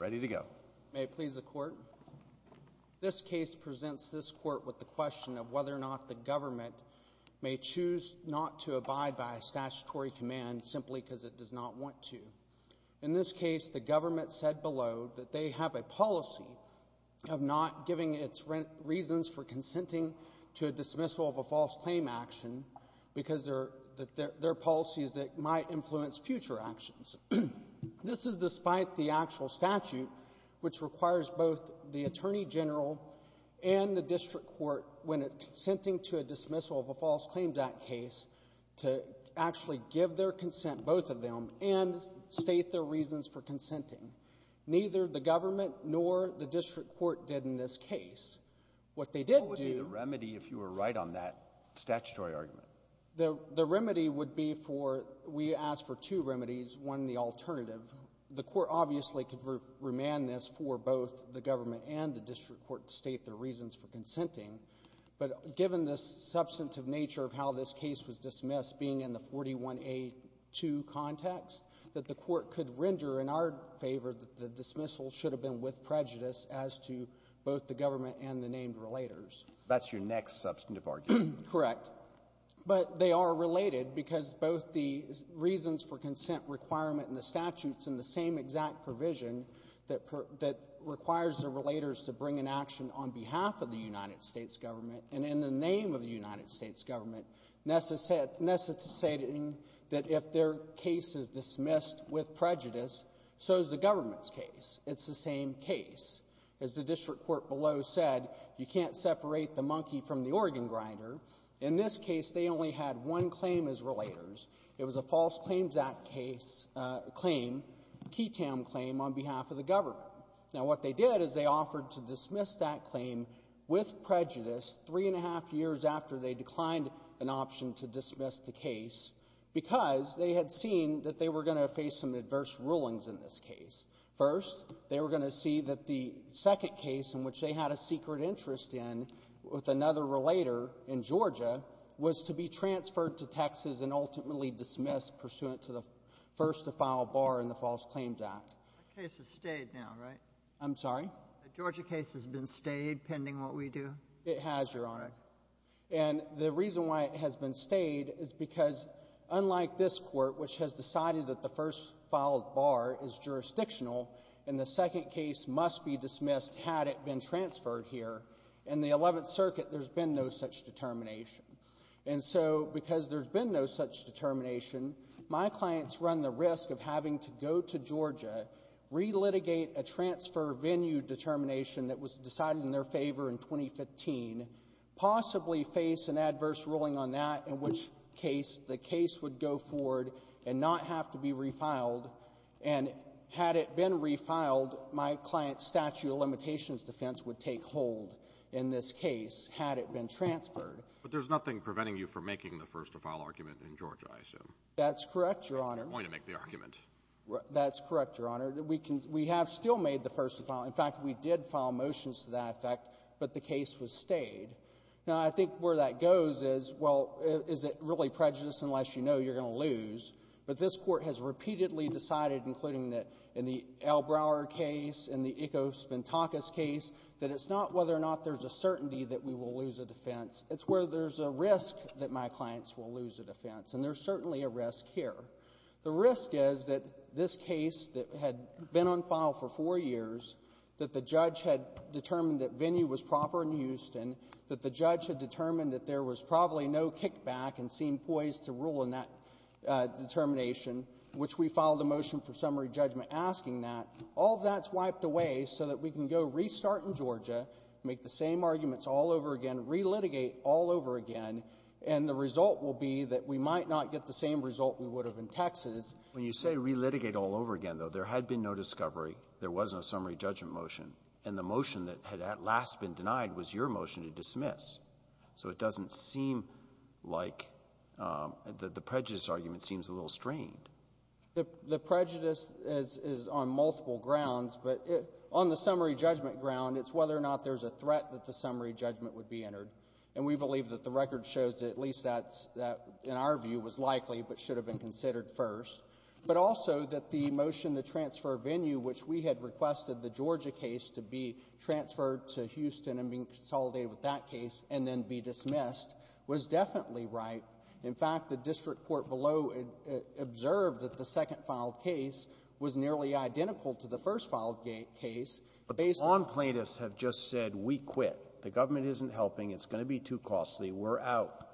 Ready to go. May it please the court. This case presents this court with the question of whether or not the government may choose not to abide by a statutory command simply because it does not want to. In this case, the government said below that they have a policy of not giving its reasons for consenting to a dismissal of a false claim action because they're policies that might influence future actions. This is despite the actual statute, which requires both the attorney general and the case to actually give their consent, both of them, and state their reasons for consenting. Neither the government nor the district court did in this case. What they did do — What would be the remedy if you were right on that statutory argument? The remedy would be for — we asked for two remedies, one the alternative. The court obviously could remand this for both the government and the district court to state their reasons for consenting. But given the substantive nature of how this case was dismissed, being in the 41A2 context, that the court could render in our favor that the dismissal should have been with prejudice as to both the government and the named relators. That's your next substantive argument. Correct. But they are related because both the reasons for consent requirement in the statutes and the same exact provision that requires the relators to bring an action on behalf of the United States government and in the name of the United States government, necessitating that if their case is dismissed with prejudice, so is the government's case. It's the same case. As the district court below said, you can't separate the monkey from the organ grinder. In this case, they only had one claim as relators. It was a False Claims Act case — claim, Keytown claim, on behalf of the government. Now, what they did is they offered to dismiss that claim with prejudice three and a half years after they declined an option to dismiss the case because they had seen that they were going to face some adverse rulings in this case. First, they were going to see that the second case in which they had a secret interest in with another relator in Georgia was to be transferred to Texas and ultimately dismissed pursuant to the first to file bar in the False Claims Act. The case has stayed now, right? I'm sorry? The Georgia case has been stayed, pending what we do? It has, Your Honor. And the reason why it has been stayed is because, unlike this court, which has decided that the first filed bar is jurisdictional and the second case must be dismissed had it been transferred here, in the Eleventh Circuit there's been no such determination. And so, because there's been no such determination, my clients run the risk of having to go to Georgia, relitigate a transfer venue determination that was decided in their favor in 2015, possibly face an adverse ruling on that, in which case the case would go forward and not have to be refiled. And had it been refiled, my client's statute of limitations defense would take hold in this case had it been transferred. But there's nothing preventing you from making the first to file argument in Georgia, I assume. That's correct, Your Honor. They're going to make the argument. That's correct, Your Honor. We have still made the first to file. In fact, we did file motions to that effect, but the case was stayed. Now, I think where that goes is, well, is it really prejudice unless you know you're going to lose? But this Court has repeatedly decided, including in the Al Brower case, in the Iko Spintakis case, that it's not whether or not there's a certainty that we will lose a defense. It's where there's a risk that my clients will lose a defense. And there's certainly a risk here. The risk is that this case that had been on file for four years, that the judge had determined that venue was proper in Houston, that the judge had determined that there was probably no kickback and seemed poised to rule in that determination, which we filed a motion for summary judgment asking that. All that's wiped away so that we can go restart in Georgia, make the same arguments all over again, re-litigate all over again, and the result will be that we might not get the same result we would have in Texas. When you say re-litigate all over again, though, there had been no discovery. There was no summary judgment motion. And the motion that had at last been denied was your motion to dismiss. So it doesn't seem like the prejudice argument seems a little strained. The prejudice is on multiple grounds, but on the summary judgment ground, it's whether or not there's a threat that the summary judgment would be entered. And we believe that the record shows that at least that's that, in our view, was likely but should have been considered first. But also that the motion to transfer venue, which we had requested the Georgia case to be transferred to Houston and being consolidated with that case and then be dismissed, was definitely right. In fact, the district court below observed that the second filed case was nearly identical to the first filed case, but based on the other case, the district court said it's going to be too costly, we're out.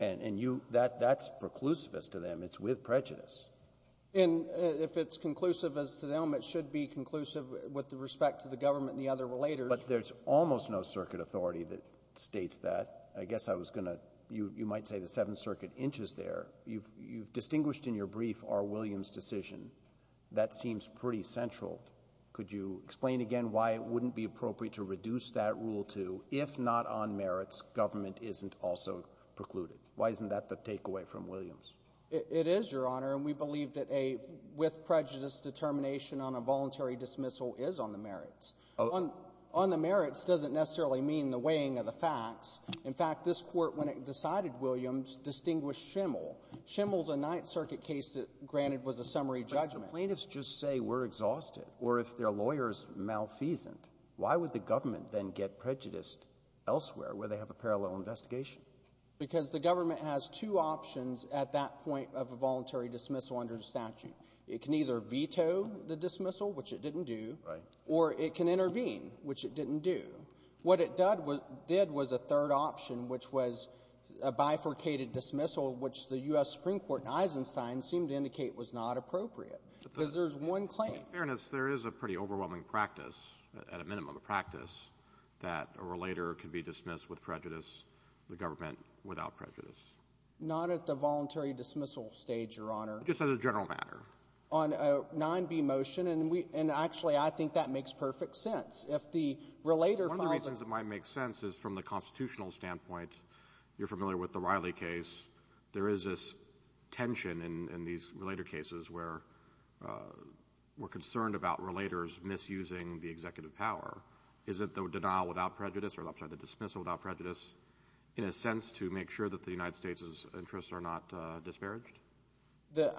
And you — that's preclusivist to them. It's with prejudice. And if it's conclusive as to them, it should be conclusive with respect to the government and the other relators. But there's almost no circuit authority that states that. I guess I was going to — you might say the Seventh Circuit inches there. You've distinguished in your brief R. Williams' decision. That seems pretty central. Could you explain again why it wouldn't be appropriate to reduce that rule to, if not on merits, government isn't also precluded? Why isn't that the takeaway from Williams? It is, Your Honor. And we believe that a — with prejudice, determination on a voluntary dismissal is on the merits. On the merits doesn't necessarily mean the weighing of the facts. In fact, this Court, when it decided Williams, distinguished Schimel. Schimel's a Ninth Circuit case that, granted, was a summary judgment. But if the plaintiffs just say we're exhausted or if their lawyer is malfeasant, why would the government then get prejudiced elsewhere, where they have a parallel investigation? Because the government has two options at that point of a voluntary dismissal under the statute. It can either veto the dismissal, which it didn't do, or it can intervene, which it didn't do. What it did was a third option, which was a bifurcated dismissal, which the U.S. Supreme Court in Eisenstein seemed to indicate was not appropriate. Because there's one claim. In fairness, there is a pretty overwhelming practice, at a minimum a practice, that a relator can be dismissed with prejudice, the government without prejudice. Not at the voluntary dismissal stage, Your Honor. Just as a general matter. On a 9b motion. And we — and actually, I think that makes perfect sense. If the relator — One of the reasons it might make sense is, from the constitutional standpoint, you're familiar with the Riley case. There is this tension in these relator cases where we're concerned about relators misusing the executive power. Is it the denial without prejudice, or I'm sorry, the dismissal without prejudice, in a sense, to make sure that the United States' interests are not disparaged?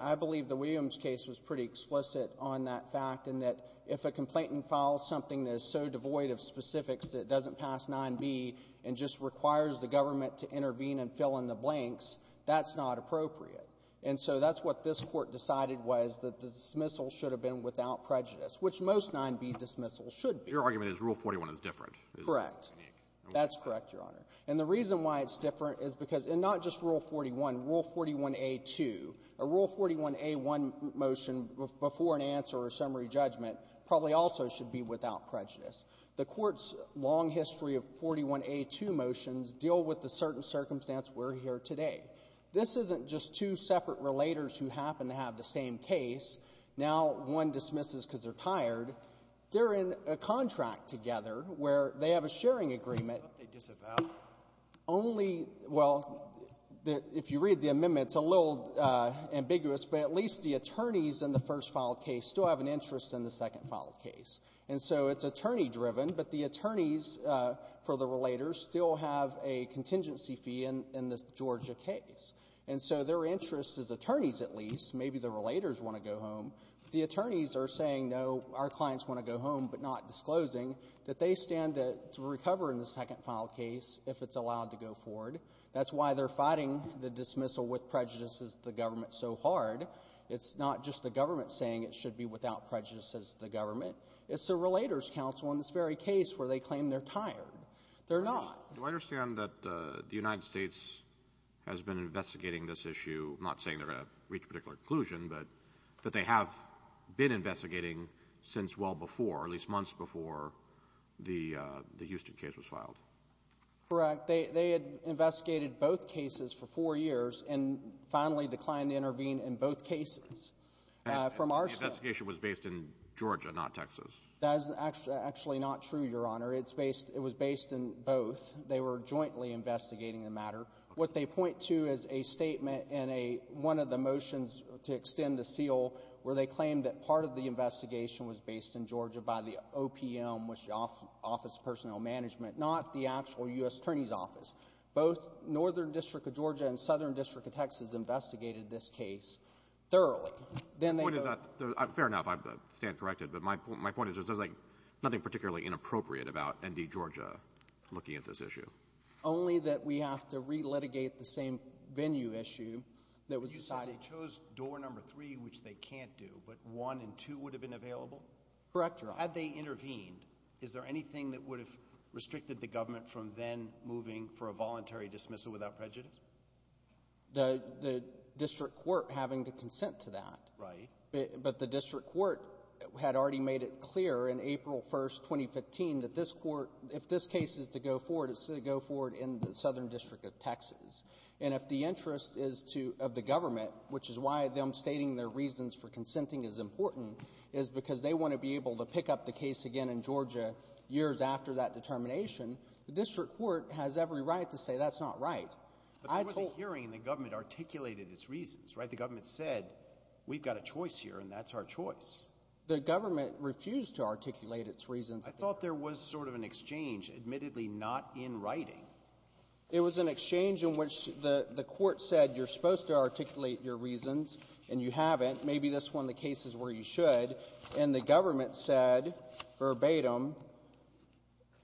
I believe the Williams case was pretty explicit on that fact, in that if a complainant files something that is so devoid of specifics that it doesn't pass 9b and just requires the government to intervene and fill in the blanks, that's not appropriate. And so that's what this Court decided was, that the dismissal should have been without prejudice, which most 9b dismissals should be. Your argument is Rule 41 is different. Correct. That's correct, Your Honor. And the reason why it's different is because — and not just Rule 41. Rule 41a-2, a Rule 41a-1 motion before an answer or summary judgment probably also should be without prejudice. The Court's long history of 41a-2 motions deal with the certain circumstance we're here today. This isn't just two separate relators who happen to have the same case. Now one dismisses because they're tired. They're in a contract together where they have a sharing agreement. But they disavow. Only — well, if you read the amendment, it's a little ambiguous, but at least the attorneys in the first filed case still have an interest in the second filed case. And so it's attorney-driven, but the attorneys for the relators still have a contingency fee in this Georgia case. And so their interest is attorneys, at least. Maybe the relators want to go home. The attorneys are saying, no, our clients want to go home, but not disclosing that they stand to recover in the second filed case if it's allowed to go forward. That's why they're fighting the dismissal with prejudice as the government so hard. It's not just the government saying it should be without prejudice as the government. It's the Relators Council in this very case where they claim they're tired. They're not. Do I understand that the United States has been investigating this issue, not saying they're going to reach a particular conclusion, but that they have been investigating since well before, at least months before, the Houston case was filed? Correct. They had investigated both cases for four years and finally declined to intervene in both cases. And the investigation was based in Georgia, not Texas? That is actually not true, Your Honor. It was based in both. They were jointly investigating the matter. What they point to is a statement in one of the motions to extend the seal where they claimed that part of the investigation was based in Georgia by the OPM, which is the Office of Personnel Management, not the actual U.S. Attorney's Office. Both Northern District of Georgia and Southern District of Texas investigated this case thoroughly. The point is that, fair enough, I stand corrected, but my point is there's like nothing particularly inappropriate about ND Georgia looking at this issue. Only that we have to re-litigate the same venue issue that was decided. You said they chose door number three, which they can't do, but one and two would have been available? Correct, Your Honor. Had they intervened, is there anything that would have restricted the government from then moving for a voluntary dismissal without prejudice? The district court having to consent to that. Right. But the district court had already made it clear in April 1st, 2015, that this court — if this case is to go forward, it's going to go forward in the Southern District of Texas. And if the interest is to — of the government, which is why them stating their reasons for consenting is important, is because they want to be able to pick up the case again in Georgia years after that determination, the district court has every right to say that's not right. But there was a hearing, and the government articulated its reasons, right? The government said, we've got a choice here, and that's our choice. The government refused to articulate its reasons. I thought there was sort of an exchange, admittedly not in writing. It was an exchange in which the court said, you're supposed to articulate your reasons, and you haven't. Maybe this one, the case is where you should. And the government said verbatim,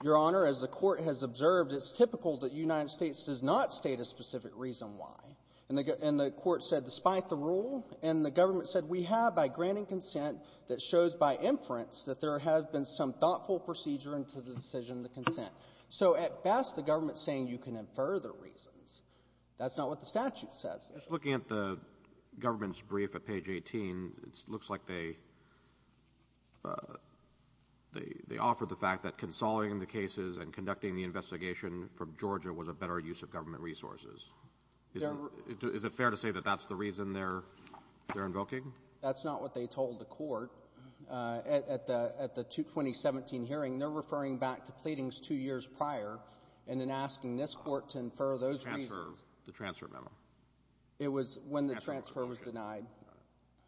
Your Honor, as the court has observed, it's typical that the United States does not state a specific reason why. And the court said, despite the rule, and the government said, we have, by granting consent, that shows by inference that there has been some thoughtful procedure into the decision of the consent. So at best, the government is saying you can infer the reasons. That's not what the statute says. If you're looking at the government's brief at page 18, it looks like they offer the better use of government resources. Is it fair to say that that's the reason they're invoking? That's not what they told the court. At the 2017 hearing, they're referring back to pleadings two years prior, and then asking this court to infer those reasons. The transfer memo. It was when the transfer was denied.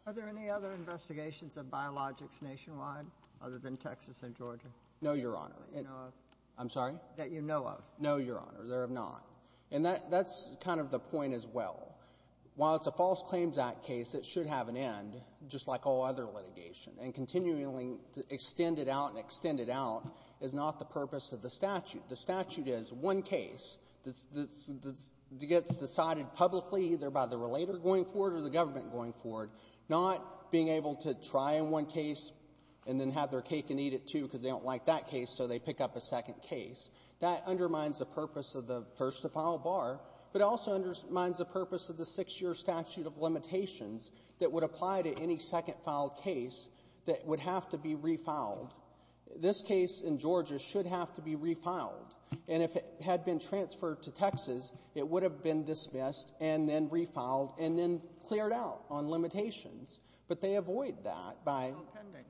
Are there any other investigations of biologics nationwide, other than Texas and Georgia? No, Your Honor. I'm sorry? That you know of. No, Your Honor, there are not. And that's kind of the point as well. While it's a False Claims Act case, it should have an end, just like all other litigation. And continually extend it out and extend it out is not the purpose of the statute. The statute is one case that gets decided publicly, either by the relator going forward or the government going forward, not being able to try in one case and then have their cake and eat it, too, because they don't like that case, so they pick up a second case. That undermines the purpose of the first-to-file bar, but it also undermines the purpose of the six-year statute of limitations that would apply to any second-filed case that would have to be refiled. This case in Georgia should have to be refiled. And if it had been transferred to Texas, it would have been dismissed and then refiled and then cleared out on limitations. But they avoid that by — It's not pending.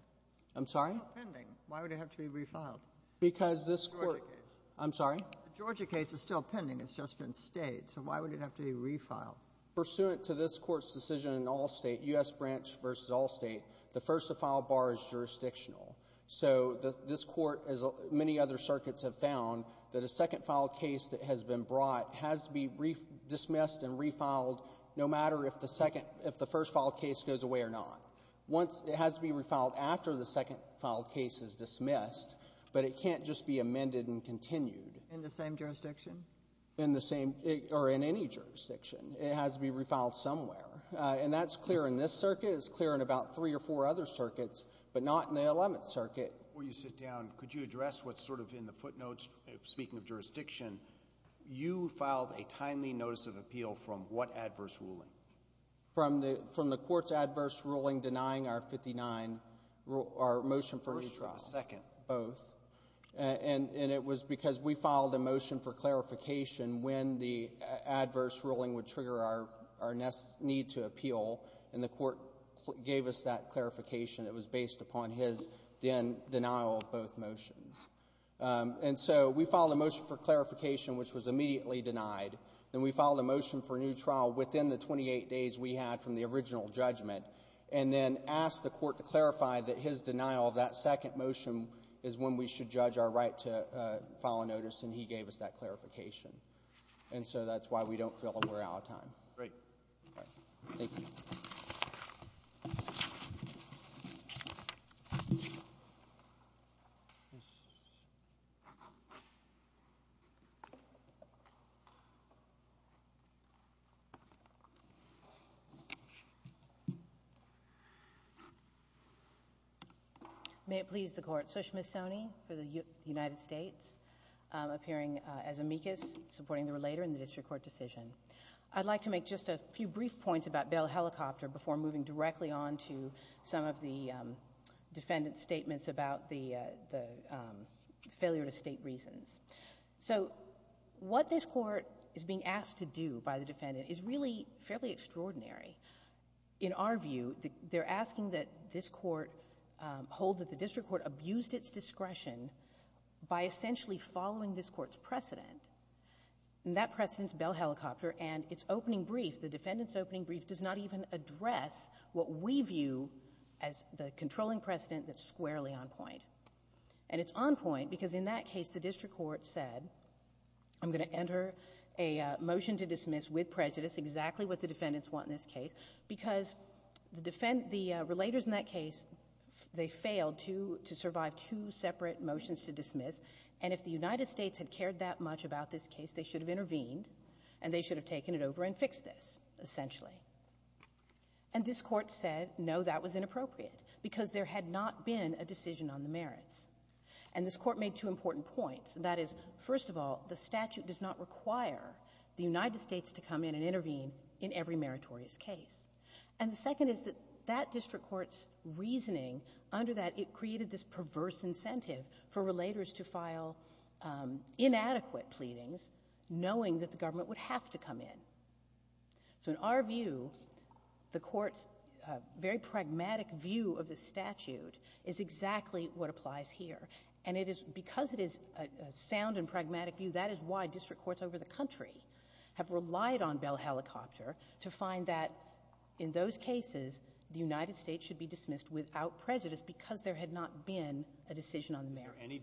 I'm sorry? It's not pending. Why would it have to be refiled? Because this court — I'm sorry? Georgia case is still pending. It's just been stayed. So why would it have to be refiled? Pursuant to this Court's decision in all State, U.S. branch versus all State, the first-to-file bar is jurisdictional. So this Court, as many other circuits have found, that a second-filed case that has been brought has to be dismissed and refiled no matter if the second — if the first-filed case goes away or not. Once — it has to be refiled after the second-filed case is dismissed, but it can't just be amended and continued. In the same jurisdiction? In the same — or in any jurisdiction. It has to be refiled somewhere. And that's clear in this circuit. It's clear in about three or four other circuits, but not in the Eleventh Circuit. Before you sit down, could you address what's sort of in the footnotes? Speaking of jurisdiction, you filed a timely notice of appeal from what adverse ruling? From the — from the Court's adverse ruling denying our 59 — our motion for retrial. First or the second? Both. And it was because we filed a motion for clarification when the adverse ruling would trigger our — our need to appeal, and the Court gave us that clarification. It was based upon his then denial of both motions. And so we filed a motion for clarification, which was immediately denied. Then we filed a motion for a new trial within the 28 days we had from the original judgment, and then asked the Court to clarify that his denial of that second motion is when we should judge our right to file a notice, and he gave us that clarification. And so that's why we don't feel that we're out of time. Great. Thank you. May it please the Court. Sushma Soni for the United States, appearing as amicus, supporting the relator in the district court decision. I'd like to make just a few brief points about bail helicopter before moving directly on to some of the defendant's statements about the — the failure to state reasons. So what this Court is being asked to do by the defendant is really fairly extraordinary. In our view, they're asking that this Court hold that the district court abused its discretion by essentially following this Court's precedent, and that precedent is bail helicopter. And its opening brief, the defendant's opening brief, does not even address what we view as the controlling precedent that's squarely on point. And it's on point because in that case, the district court said, I'm going to enter a motion to dismiss with prejudice exactly what the defendants want in this case, because the defend — the relators in that case, they failed to — to survive two separate motions to dismiss. And if the United States had cared that much about this case, they should have intervened, and they should have taken it over and fixed this, essentially. And this Court said, no, that was inappropriate, because there had not been a decision on the merits. And this Court made two important points. That is, first of all, the statute does not require the United States to come in and intervene in every meritorious case. And the second is that that district court's reasoning under that, it created this perverse incentive for relators to file inadequate pleadings, knowing that the government would have to come in. So in our view, the Court's very pragmatic view of the statute is exactly what applies here. And it is — because it is a sound and pragmatic view, that is why district courts over the to find that in those cases, the United States should be dismissed without prejudice because there had not been a decision on the merits. Is there any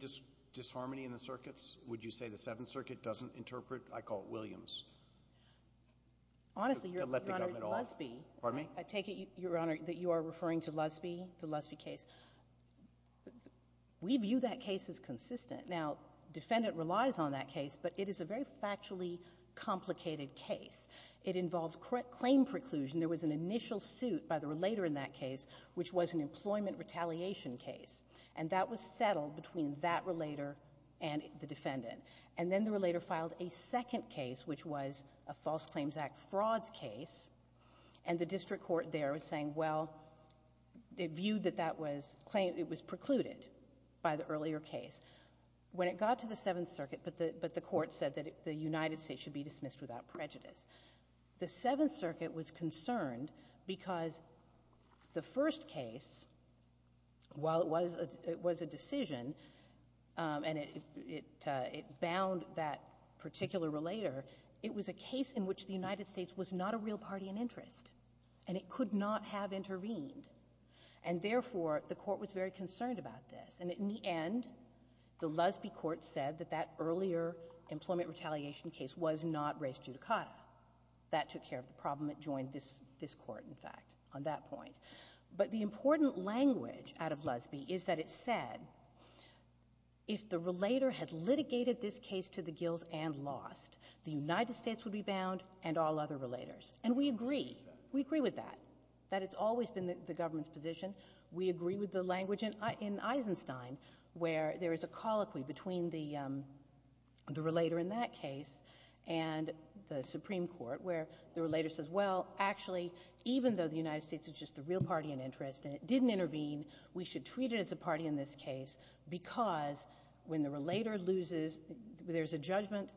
disharmony in the circuits? Would you say the Seventh Circuit doesn't interpret? I call it Williams. To let the government off. Honestly, Your Honor, Lusby — Pardon me? I take it, Your Honor, that you are referring to Lusby, the Lusby case. We view that case as consistent. Now, defendant relies on that case, but it is a very factually complicated case. It involves claim preclusion. There was an initial suit by the relator in that case, which was an employment retaliation case. And that was settled between that relator and the defendant. And then the relator filed a second case, which was a False Claims Act frauds case. And the district court there was saying, well, they viewed that that was — it was precluded by the earlier case. When it got to the Seventh Circuit, but the Court said that the United States should be The Seventh Circuit was concerned because the first case, while it was a decision and it bound that particular relator, it was a case in which the United States was not a real party in interest, and it could not have intervened. And therefore, the Court was very concerned about this. And in the end, the Lusby court said that that earlier employment retaliation case was not race judicata. That took care of the problem. It joined this court, in fact, on that point. But the important language out of Lusby is that it said, if the relator had litigated this case to the gills and lost, the United States would be bound and all other relators. And we agree. We agree with that, that it's always been the government's position. We agree with the language in Eisenstein, where there is a colloquy between the Supreme Court and the Supreme Court, where the relator says, well, actually, even though the United States is just a real party in interest and it didn't intervene, we should treat it as a party in this case because when the relator loses, there's a judgment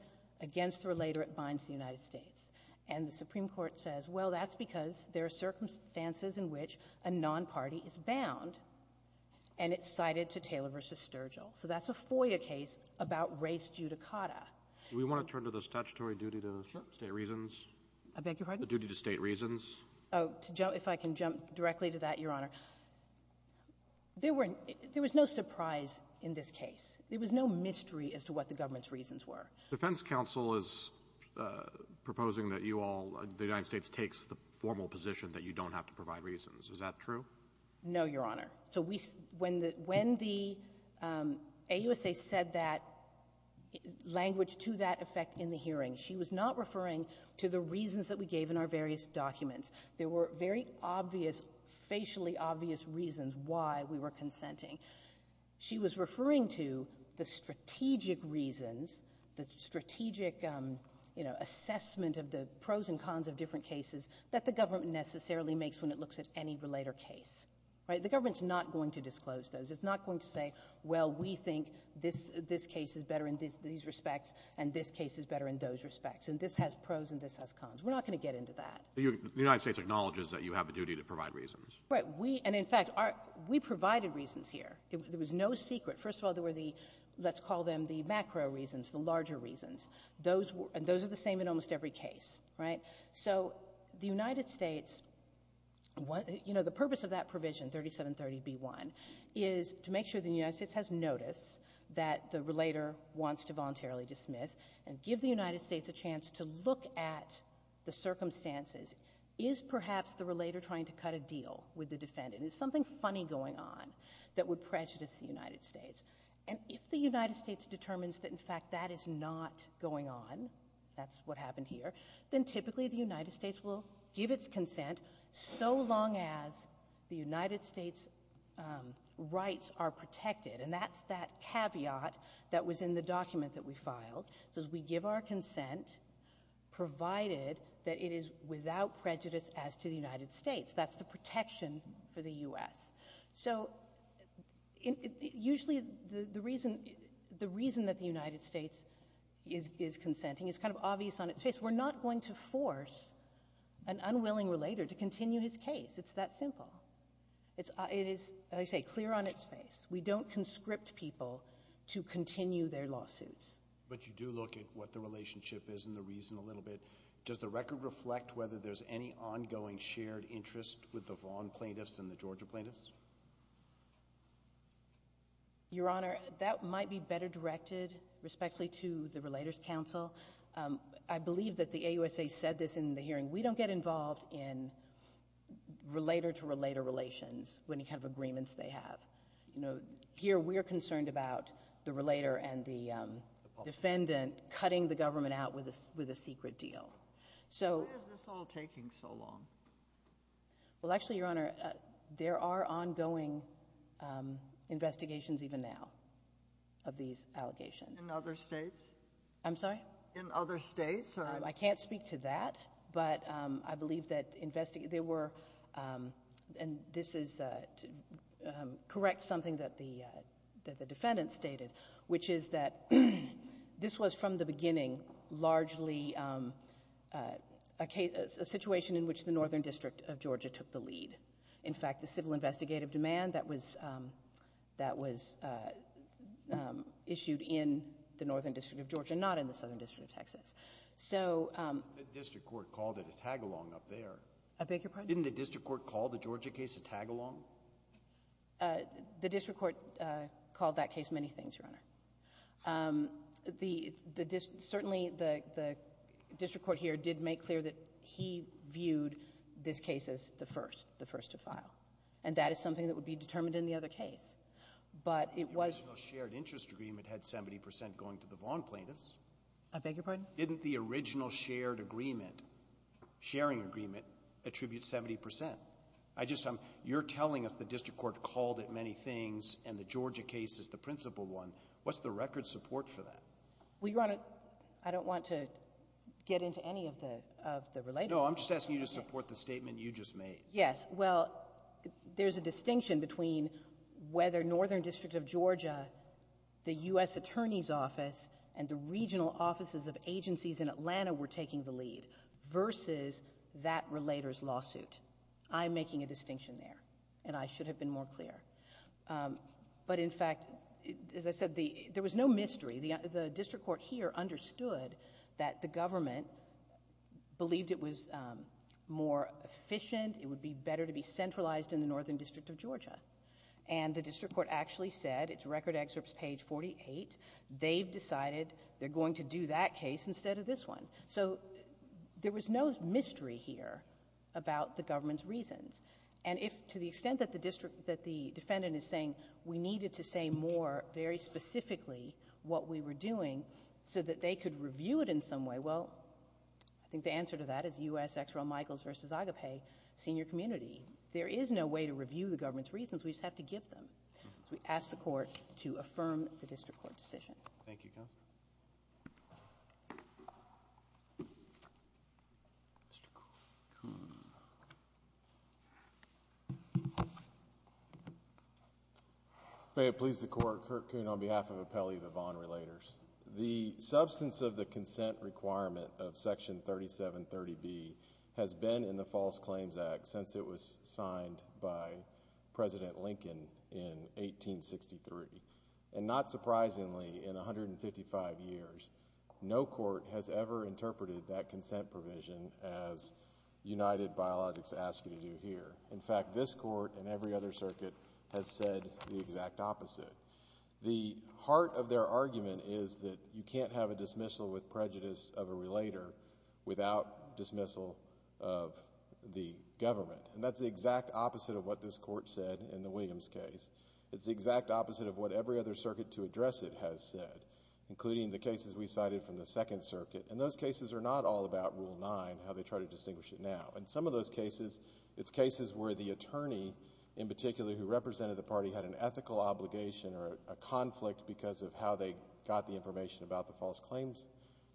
against the relator, it binds the United States. And the Supreme Court says, well, that's because there are circumstances in which a nonparty is bound, and it's cited to Taylor v. Sturgill. So that's a FOIA case about race judicata. We want to turn to the statutory duty to state reasons. I beg your pardon? The duty to state reasons. Oh, if I can jump directly to that, Your Honor. There was no surprise in this case. There was no mystery as to what the government's reasons were. Defense counsel is proposing that you all, the United States takes the formal position that you don't have to provide reasons. Is that true? No, Your Honor. So when the AUSA said that language to that effect in the hearing, she was not referring to the reasons that we gave in our various documents. There were very obvious, facially obvious reasons why we were consenting. She was referring to the strategic reasons, the strategic, you know, assessment of the pros and cons of different cases that the government necessarily makes when it looks at any relator case. Right? The government's not going to disclose those. It's not going to say, well, we think this case is better in these respects and this case is better in those respects. And this has pros and this has cons. We're not going to get into that. The United States acknowledges that you have the duty to provide reasons. Right. We, and in fact, we provided reasons here. There was no secret. First of all, there were the, let's call them the macro reasons, the larger reasons. Those were, and those are the same in almost every case. Right? So the United States, you know, the purpose of that provision 3730B1 is to make sure the United States has notice that the relator wants to voluntarily dismiss and give the United States a chance to look at the circumstances. Is perhaps the relator trying to cut a deal with the defendant? Is something funny going on that would prejudice the United States? And if the United States determines that in fact that is not going on, that's what happened here, then typically the United States will give its consent so long as the United States rights are protected. And that's that caveat that was in the document that we filed. So as we give our consent provided that it is without prejudice as to the United States, that's the protection for the U.S. So usually the reason, the reason that the United States is consenting is kind of obvious on its face. We're not going to force an unwilling relator to continue his case. It's that simple. It is, as I say, clear on its face. We don't conscript people to continue their lawsuits. But you do look at what the relationship is and the reason a little bit. Does the record reflect whether there's any ongoing shared interest with the Vaughn plaintiffs and the Georgia plaintiffs? Your Honor, that might be better directed respectfully to the Relators Council. I believe that the AUSA said this in the hearing. We don't get involved in relator-to-relator relations with any kind of agreements they have. You know, here we're concerned about the relator and the defendant cutting the government out with a secret deal. Why is this all taking so long? Well, actually, Your Honor, there are ongoing investigations even now of these allegations. In other states? I'm sorry? In other states? I can't speak to that. But I believe that there were, and this is to correct something that the defendant stated, which is that this was from the beginning largely a situation in which the Northern District of Georgia took the lead. In fact, the civil investigative demand that was issued in the Northern District of Georgia, not in the Southern District of Texas. So — The district court called it a tag-along up there. I beg your pardon? Didn't the district court call the Georgia case a tag-along? The district court called that case many things, Your Honor. The district, certainly the district court here did make clear that he viewed this case as the first, the first to file. And that is something that would be determined in the other case. But it was — I beg your pardon? Didn't the original shared agreement, sharing agreement, attribute 70 percent? I just — you're telling us the district court called it many things and the Georgia case is the principal one. What's the record support for that? Well, Your Honor, I don't want to get into any of the related — No, I'm just asking you to support the statement you just made. Yes. Well, there's a distinction between whether Northern District of Georgia, the U.S. Attorney's Office, and the regional offices of agencies in Atlanta were taking the lead versus that relator's lawsuit. I'm making a distinction there, and I should have been more clear. But in fact, as I said, there was no mystery. The district court here understood that the government believed it was more efficient, it would be better to be centralized in the Northern District of Georgia. And the district court actually said, it's record excerpt page 48, they've decided they're going to do that case instead of this one. So there was no mystery here about the government's reasons. And if to the extent that the district — that the defendant is saying we needed to say more very specifically what we were doing so that they could review it in some way, well, I think the answer to that is U.S. Ex Real Michaels v. Agape senior community. There is no way to review the government's reasons. We just have to give them. So we ask the court to affirm the district court decision. Thank you, Counsel. May it please the Court. Kurt Kuhn on behalf of Appellee Vavon Relators. The substance of the consent requirement of Section 3730B has been in the False Claims since it was signed by President Lincoln in 1863. And not surprisingly, in 155 years, no court has ever interpreted that consent provision as United Biologics asked you to do here. In fact, this court and every other circuit has said the exact opposite. The heart of their argument is that you can't have a dismissal with prejudice of a relator without dismissal of the government. And that's the exact opposite of what this court said in the Williams case. It's the exact opposite of what every other circuit to address it has said, including the cases we cited from the Second Circuit. And those cases are not all about Rule 9, how they try to distinguish it now. In some of those cases, it's cases where the attorney in particular who represented the party had an ethical obligation or a conflict because of how they got the information about the False Claims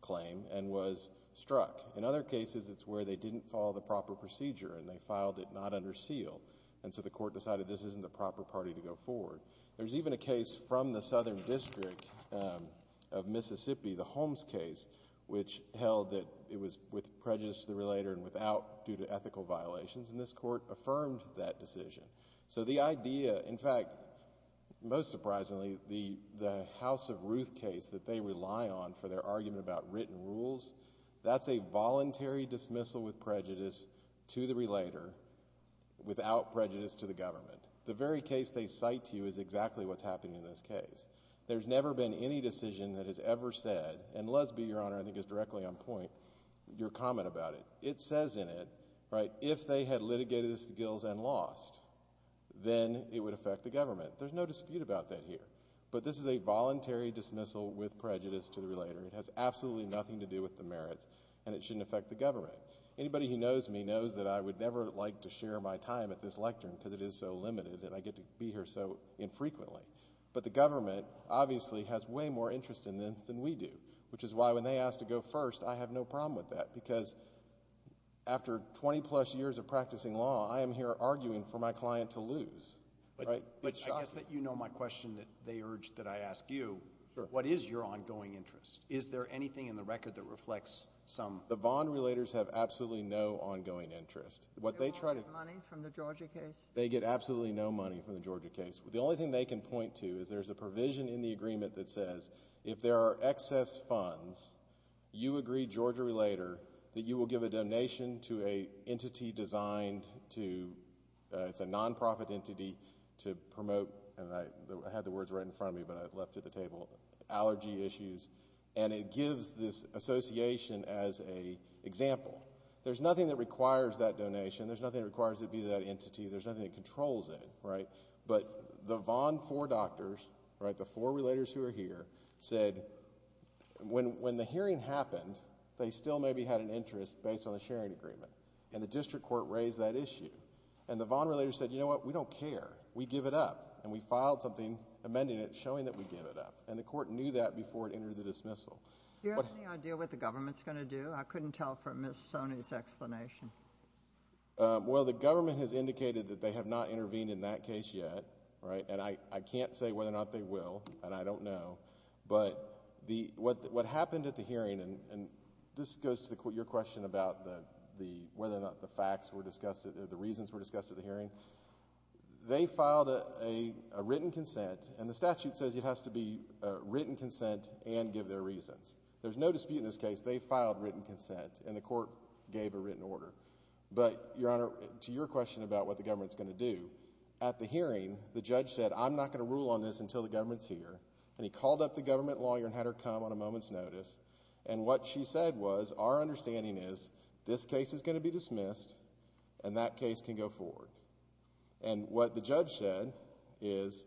claim and was struck. In other cases, it's where they didn't follow the proper procedure and they filed it not under seal. And so the court decided this isn't the proper party to go forward. There's even a case from the Southern District of Mississippi, the Holmes case, which held that it was with prejudice to the relator and without due to ethical violations. And this court affirmed that decision. So the idea, in fact, most surprisingly, the House of Ruth case that they rely on for their argument about written rules, that's a voluntary dismissal with prejudice to the relator without prejudice to the government. The very case they cite to you is exactly what's happening in this case. There's never been any decision that has ever said, and Lesby, Your Honor, I think is directly on point, your comment about it. It says in it, right, if they had litigated this to Gills and lost, then it would affect the government. There's no dispute about that here. But this is a voluntary dismissal with prejudice to the relator. It has absolutely nothing to do with the merits and it shouldn't affect the government. Anybody who knows me knows that I would never like to share my time at this lectern because it is so limited and I get to be here so infrequently. But the government obviously has way more interest in them than we do, which is why when they asked to go first, I have no problem with that because after 20 plus years of practicing law, I am here arguing for my client to lose, right? But I guess that you know my question that they urged that I ask you. What is your ongoing interest? Is there anything in the record that reflects some? The Vaughn relators have absolutely no ongoing interest. What they try to get money from the Georgia case. They get absolutely no money from the Georgia case. The only thing they can point to is there's a provision in the agreement that says if there are excess funds, you agree, Georgia relator, that you will give a donation to an entity designed to, it's a non-profit entity, to promote, and I had the words right in front of me but I left it at the table, allergy issues. And it gives this association as an example. There's nothing that requires that donation. There's nothing that requires it to be that entity. There's nothing that controls it, right? But the Vaughn four doctors, right, the four relators who are here, said when the hearing happened, they still maybe had an interest based on the sharing agreement. And the district court raised that issue. And the Vaughn relators said, you know what, we don't care. We give it up. And we filed something amending it showing that we give it up. And the court knew that before it entered the dismissal. Do you have any idea what the government's going to do? I couldn't tell from Ms. Soni's explanation. Well, the government has indicated that they have not intervened in that case yet, right? And I can't say whether or not they will, and I don't know. But what happened at the hearing, and this goes to your question about whether or not the facts were discussed, the reasons were discussed at the hearing. They filed a written consent, and the statute says it has to be a written consent and give their reasons. There's no dispute in this case. They filed written consent, and the court gave a written order. But, Your Honor, to your question about what the government's going to do, at the hearing, the judge said, I'm not going to rule on this until the government's here. And he called up the government lawyer and had her come on a moment's notice. And what she said was, our understanding is, this case is going to be dismissed, and that case can go forward. And what the judge said is,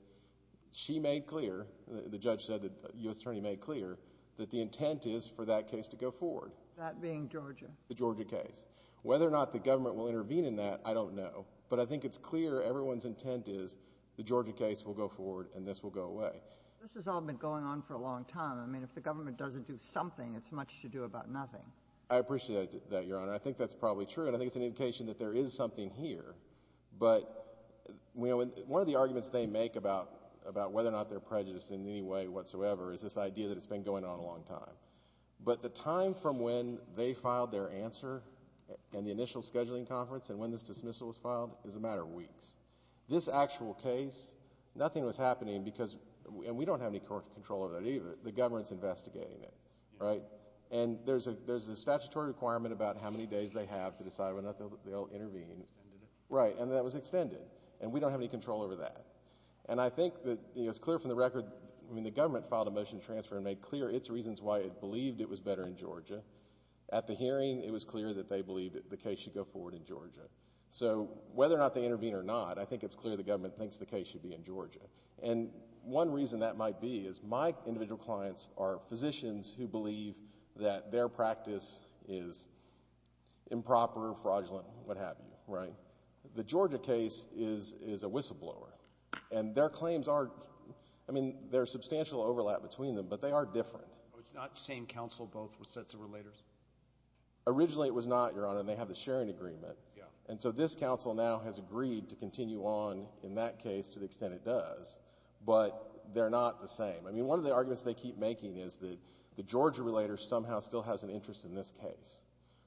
she made clear, the judge said, the U.S. Attorney made clear that the intent is for that case to go forward. That being Georgia? The Georgia case. Whether or not the government will intervene in that, I don't know. But I think it's clear everyone's intent is, the Georgia case will go forward, and this will go away. This has all been going on for a long time. I mean, if the government doesn't do something, it's much to do about nothing. I appreciate that, Your Honor. I think that's probably true. And I think it's an indication that there is something here. But, you know, one of the arguments they make about whether or not they're prejudiced in any way whatsoever is this idea that it's been going on a long time. But the time from when they filed their answer, and the initial scheduling conference, and when this dismissal was filed, is a matter of weeks. This actual case, nothing was happening because, and we don't have any control over that either, the government's investigating it, right? And there's a statutory requirement about how many days they have to decide whether or not they'll intervene. Extended it. Right, and that was extended. And we don't have any control over that. And I think that it's clear from the record, I mean, the government filed a motion to transfer and made clear its reasons why it believed it was better in Georgia. At the hearing, it was clear that they believed that the case should go forward in Georgia. So whether or not they intervene or not, I think it's clear the government thinks the case should be in Georgia. And one reason that might be is my individual clients are physicians who believe that their practice is improper, fraudulent, what have you, right? The Georgia case is a whistleblower. And their claims are, I mean, there's substantial overlap between them, but they are different. It's not the same counsel both with sets of relators? Originally, it was not, Your Honor, and they have the sharing agreement. And so this counsel now has agreed to continue on in that case to the extent it does. But they're not the same. I mean, one of the arguments they keep making is that the Georgia relator somehow still has an interest in this case,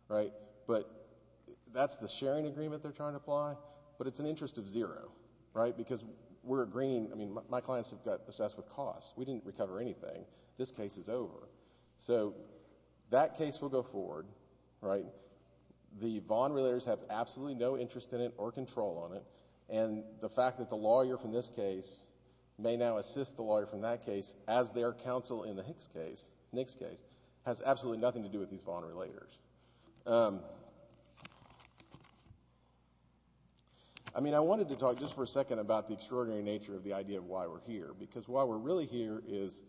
right? But that's the sharing agreement they're trying to apply. But it's an interest of zero, right? My clients have got assessed with costs. We didn't recover anything. This case is over. So that case will go forward, right? The Vaughn relators have absolutely no interest in it or control on it. And the fact that the lawyer from this case may now assist the lawyer from that case as their counsel in the Hicks case, Nix case, has absolutely nothing to do with these Vaughn relators. I mean, I wanted to talk just for a second about the extraordinary nature of the idea of why we're here. Because why we're really here is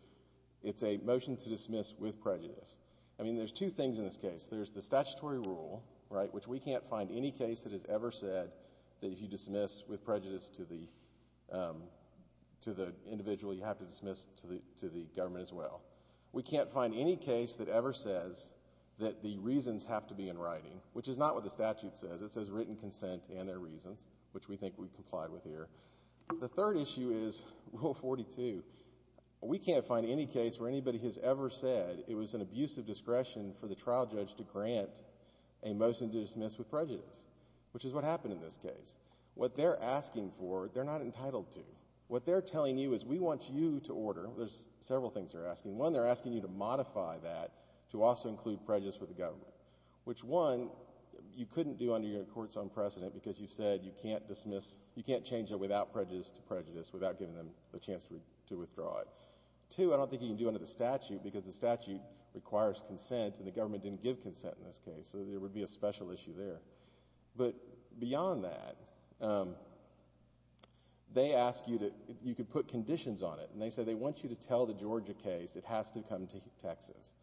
it's a motion to dismiss with prejudice. I mean, there's two things in this case. There's the statutory rule, right, which we can't find any case that has ever said that if you dismiss with prejudice to the individual, you have to dismiss to the government as well. The reasons have to be in writing, which is not what the statute says. It says written consent and their reasons, which we think we've complied with here. The third issue is Rule 42. We can't find any case where anybody has ever said it was an abuse of discretion for the trial judge to grant a motion to dismiss with prejudice, which is what happened in this case. What they're asking for, they're not entitled to. What they're telling you is we want you to order. There's several things they're asking. One, they're asking you to modify that to also include prejudice with the government, which one, you couldn't do under your court's own precedent because you said you can't dismiss, you can't change it without prejudice to prejudice without giving them a chance to withdraw it. Two, I don't think you can do it under the statute because the statute requires consent and the government didn't give consent in this case. So there would be a special issue there. But beyond that, they ask you to, you could put conditions on it. They say they want you to tell the Georgia case it has to come to Texas,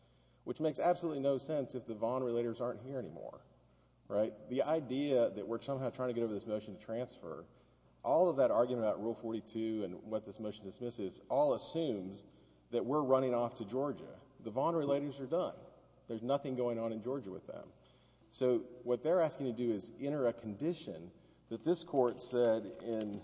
which makes absolutely no sense if the Vaughn Relators aren't here anymore, right? The idea that we're somehow trying to get over this motion to transfer, all of that argument about Rule 42 and what this motion dismisses all assumes that we're running off to Georgia. The Vaughn Relators are done. There's nothing going on in Georgia with them. So what they're asking you to do is enter a condition that this court said in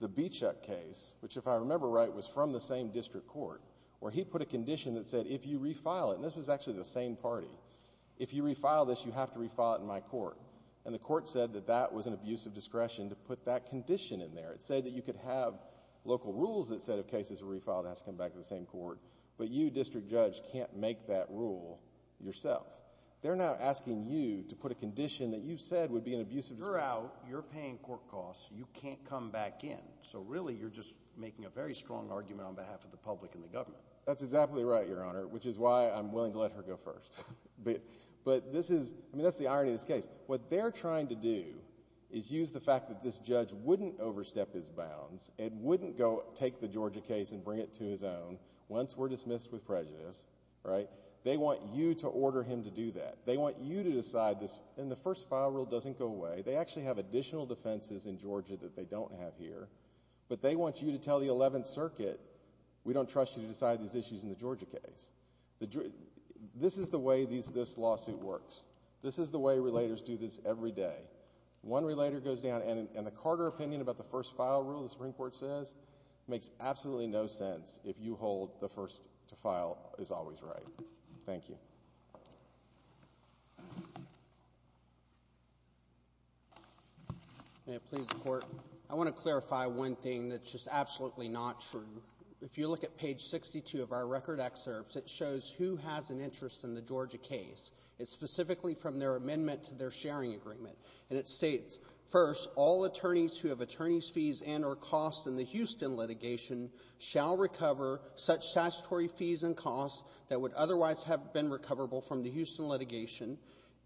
the Bichuk case, which if I remember right was from the same district court, where he put a condition that said, if you refile it, and this was actually the same party, if you refile this, you have to refile it in my court. And the court said that that was an abuse of discretion to put that condition in there. It said that you could have local rules that said if cases were refiled, it has to come back to the same court. But you, district judge, can't make that rule yourself. They're now asking you to put a condition that you said would be an abuse of discretion. You're out. You're paying court costs. You can't come back in. So really, you're just making a very strong argument on behalf of the public and the government. That's exactly right, Your Honor, which is why I'm willing to let her go first. But this is, I mean, that's the irony of this case. What they're trying to do is use the fact that this judge wouldn't overstep his bounds and wouldn't go take the Georgia case and bring it to his own once we're dismissed with prejudice, right? They want you to order him to do that. They want you to decide this. And the first file rule doesn't go away. They actually have additional defenses in Georgia that they don't have here. But they want you to tell the 11th Circuit, we don't trust you to decide these issues in the Georgia case. This is the way this lawsuit works. This is the way relators do this every day. One relator goes down, and the Carter opinion about the first file rule, the Supreme Court says, makes absolutely no sense if you hold the first to file is always right. Thank you. May it please the Court. I want to clarify one thing that's just absolutely not true. If you look at page 62 of our record excerpts, it shows who has an interest in the Georgia case. It's specifically from their amendment to their sharing agreement. And it states, first, all attorneys who have attorney's fees and or costs in the Houston litigation shall recover such statutory fees and costs that would otherwise have been recoverable from the Houston litigation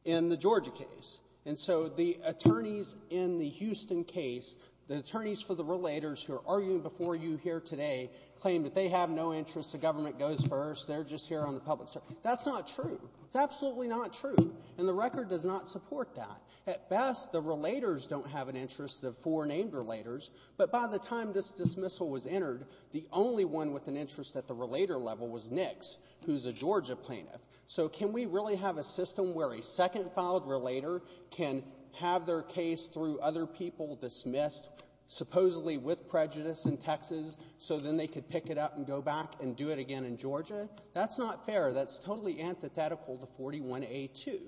in the Georgia case. And so the attorneys in the Houston case, the attorneys for the relators who are arguing before you here today, claim that they have no interest, the government goes first, they're just here on the public side. That's not true. It's absolutely not true. And the record does not support that. At best, the relators don't have an interest of four named relators. But by the time this dismissal was entered, the only one with an interest at the relator level was Nix, who's a Georgia plaintiff. So can we really have a system where a second filed relator can have their case through other people dismissed, supposedly with prejudice in Texas, so then they could pick it up and go back and do it again in Georgia? That's not fair. That's totally antithetical to 41A2.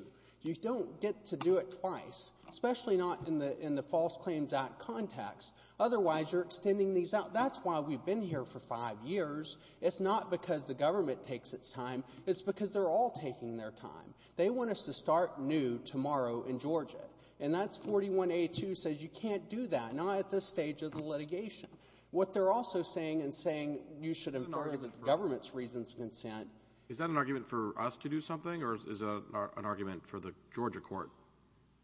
You don't get to do it twice, especially not in the False Claims Act context. Otherwise, you're extending these out. That's why we've been here for five years. It's not because the government takes its time. It's because they're all taking their time. They want us to start new tomorrow in Georgia. And that's 41A2 says you can't do that, not at this stage of the litigation. What they're also saying and saying you should infer the government's reasons of consent. Is that an argument for us to do something or is an argument for the Georgia court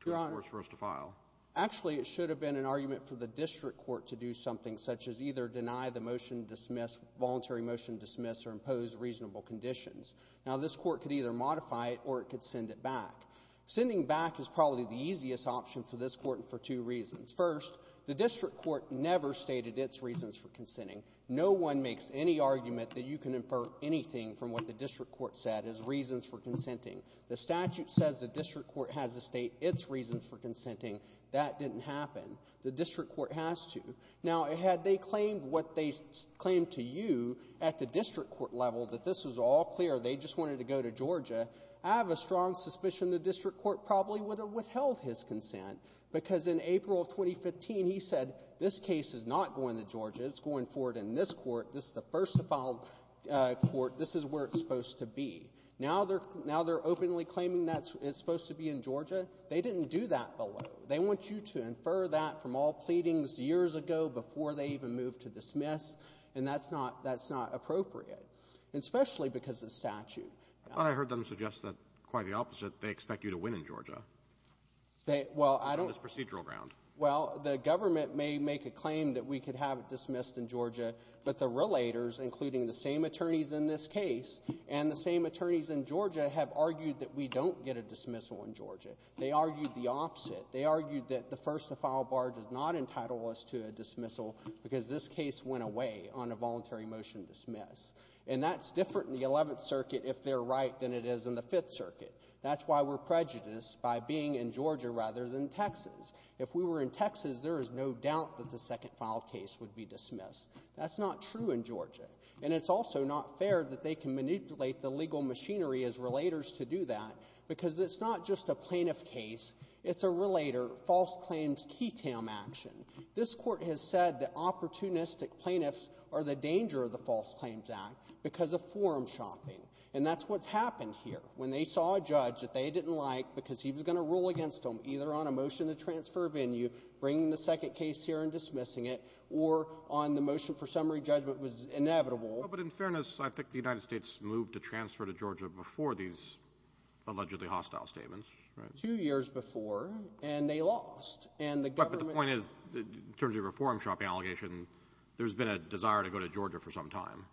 to enforce for us to file? Actually, it should have been an argument for the district court to do something such as either deny the motion to dismiss, voluntary motion to dismiss, or impose reasonable conditions. Now, this court could either modify it or it could send it back. Sending back is probably the easiest option for this court and for two reasons. First, the district court never stated its reasons for consenting. No one makes any argument that you can infer anything from what the district court said as reasons for consenting. The statute says the district court has to state its reasons for consenting. That didn't happen. The district court has to. Now, had they claimed what they claimed to you at the district court level that this was all clear, they just wanted to go to Georgia, I have a strong suspicion the district court probably would have withheld his consent. Because in April of 2015, he said this case is not going to Georgia. It's going forward in this court. This is the first to file court. This is where it's supposed to be. Now they're openly claiming that it's supposed to be in Georgia. They didn't do that below. They want you to infer that from all pleadings years ago before they even moved to dismiss, and that's not appropriate, especially because of the statute. I thought I heard them suggest that quite the opposite. They expect you to win in Georgia on this procedural ground. Well, the government may make a claim that we could have it dismissed in Georgia, but the relators, including the same attorneys in this case and the same attorneys in Georgia, have argued that we don't get a dismissal in Georgia. They argued the opposite. They argued that the first to file bar does not entitle us to a dismissal because this case went away on a voluntary motion to dismiss. And that's different in the Eleventh Circuit if they're right than it is in the Fifth Circuit. That's why we're prejudiced by being in Georgia rather than Texas. If we were in Texas, there is no doubt that the second filed case would be dismissed. That's not true in Georgia. And it's also not fair that they can manipulate the legal machinery as relators to do that because it's not just a plaintiff case. It's a relator false claims key tam action. This Court has said that opportunistic plaintiffs are the danger of the False Claims Act because of forum shopping. And that's what's happened here. When they saw a judge that they didn't like because he was going to rule against them either on a motion to transfer venue, bringing the second case here and dismissing it, or on the motion for summary judgment was inevitable. Well, but in fairness, I think the United States moved to transfer to Georgia before these allegedly hostile statements, right? Two years before, and they lost. But the point is, in terms of a forum shopping allegation, there's been a desire to go to Georgia for some time.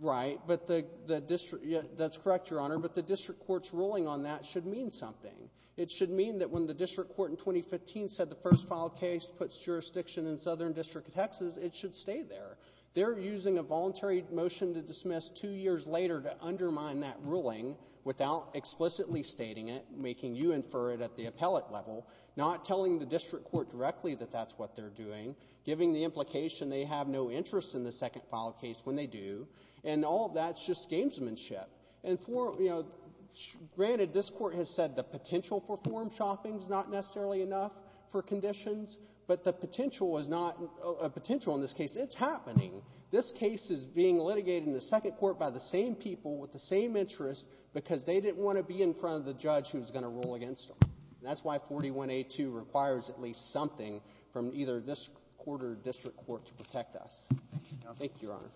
Right, but that's correct, Your Honor. But the district court's ruling on that should mean something. It should mean that when the district court in 2015 said the first filed case puts jurisdiction in Southern District of Texas, it should stay there. They're using a voluntary motion to dismiss two years later to undermine that ruling without explicitly stating it, making you infer it at the appellate level, not telling the district court directly that that's what they're doing, giving the implication they have no interest in the second filed case when they do. And all of that's just gamesmanship. And for, you know, granted, this Court has said the potential for forum shopping is not necessarily enough for conditions, but the potential is not a potential in this case. It's happening. This case is being litigated in the second court by the same people with the same interest because they didn't want to be in front of the judge who's going to rule against them. That's why 41A2 requires at least something from either this court or district court to protect us. Thank you, Your Honor.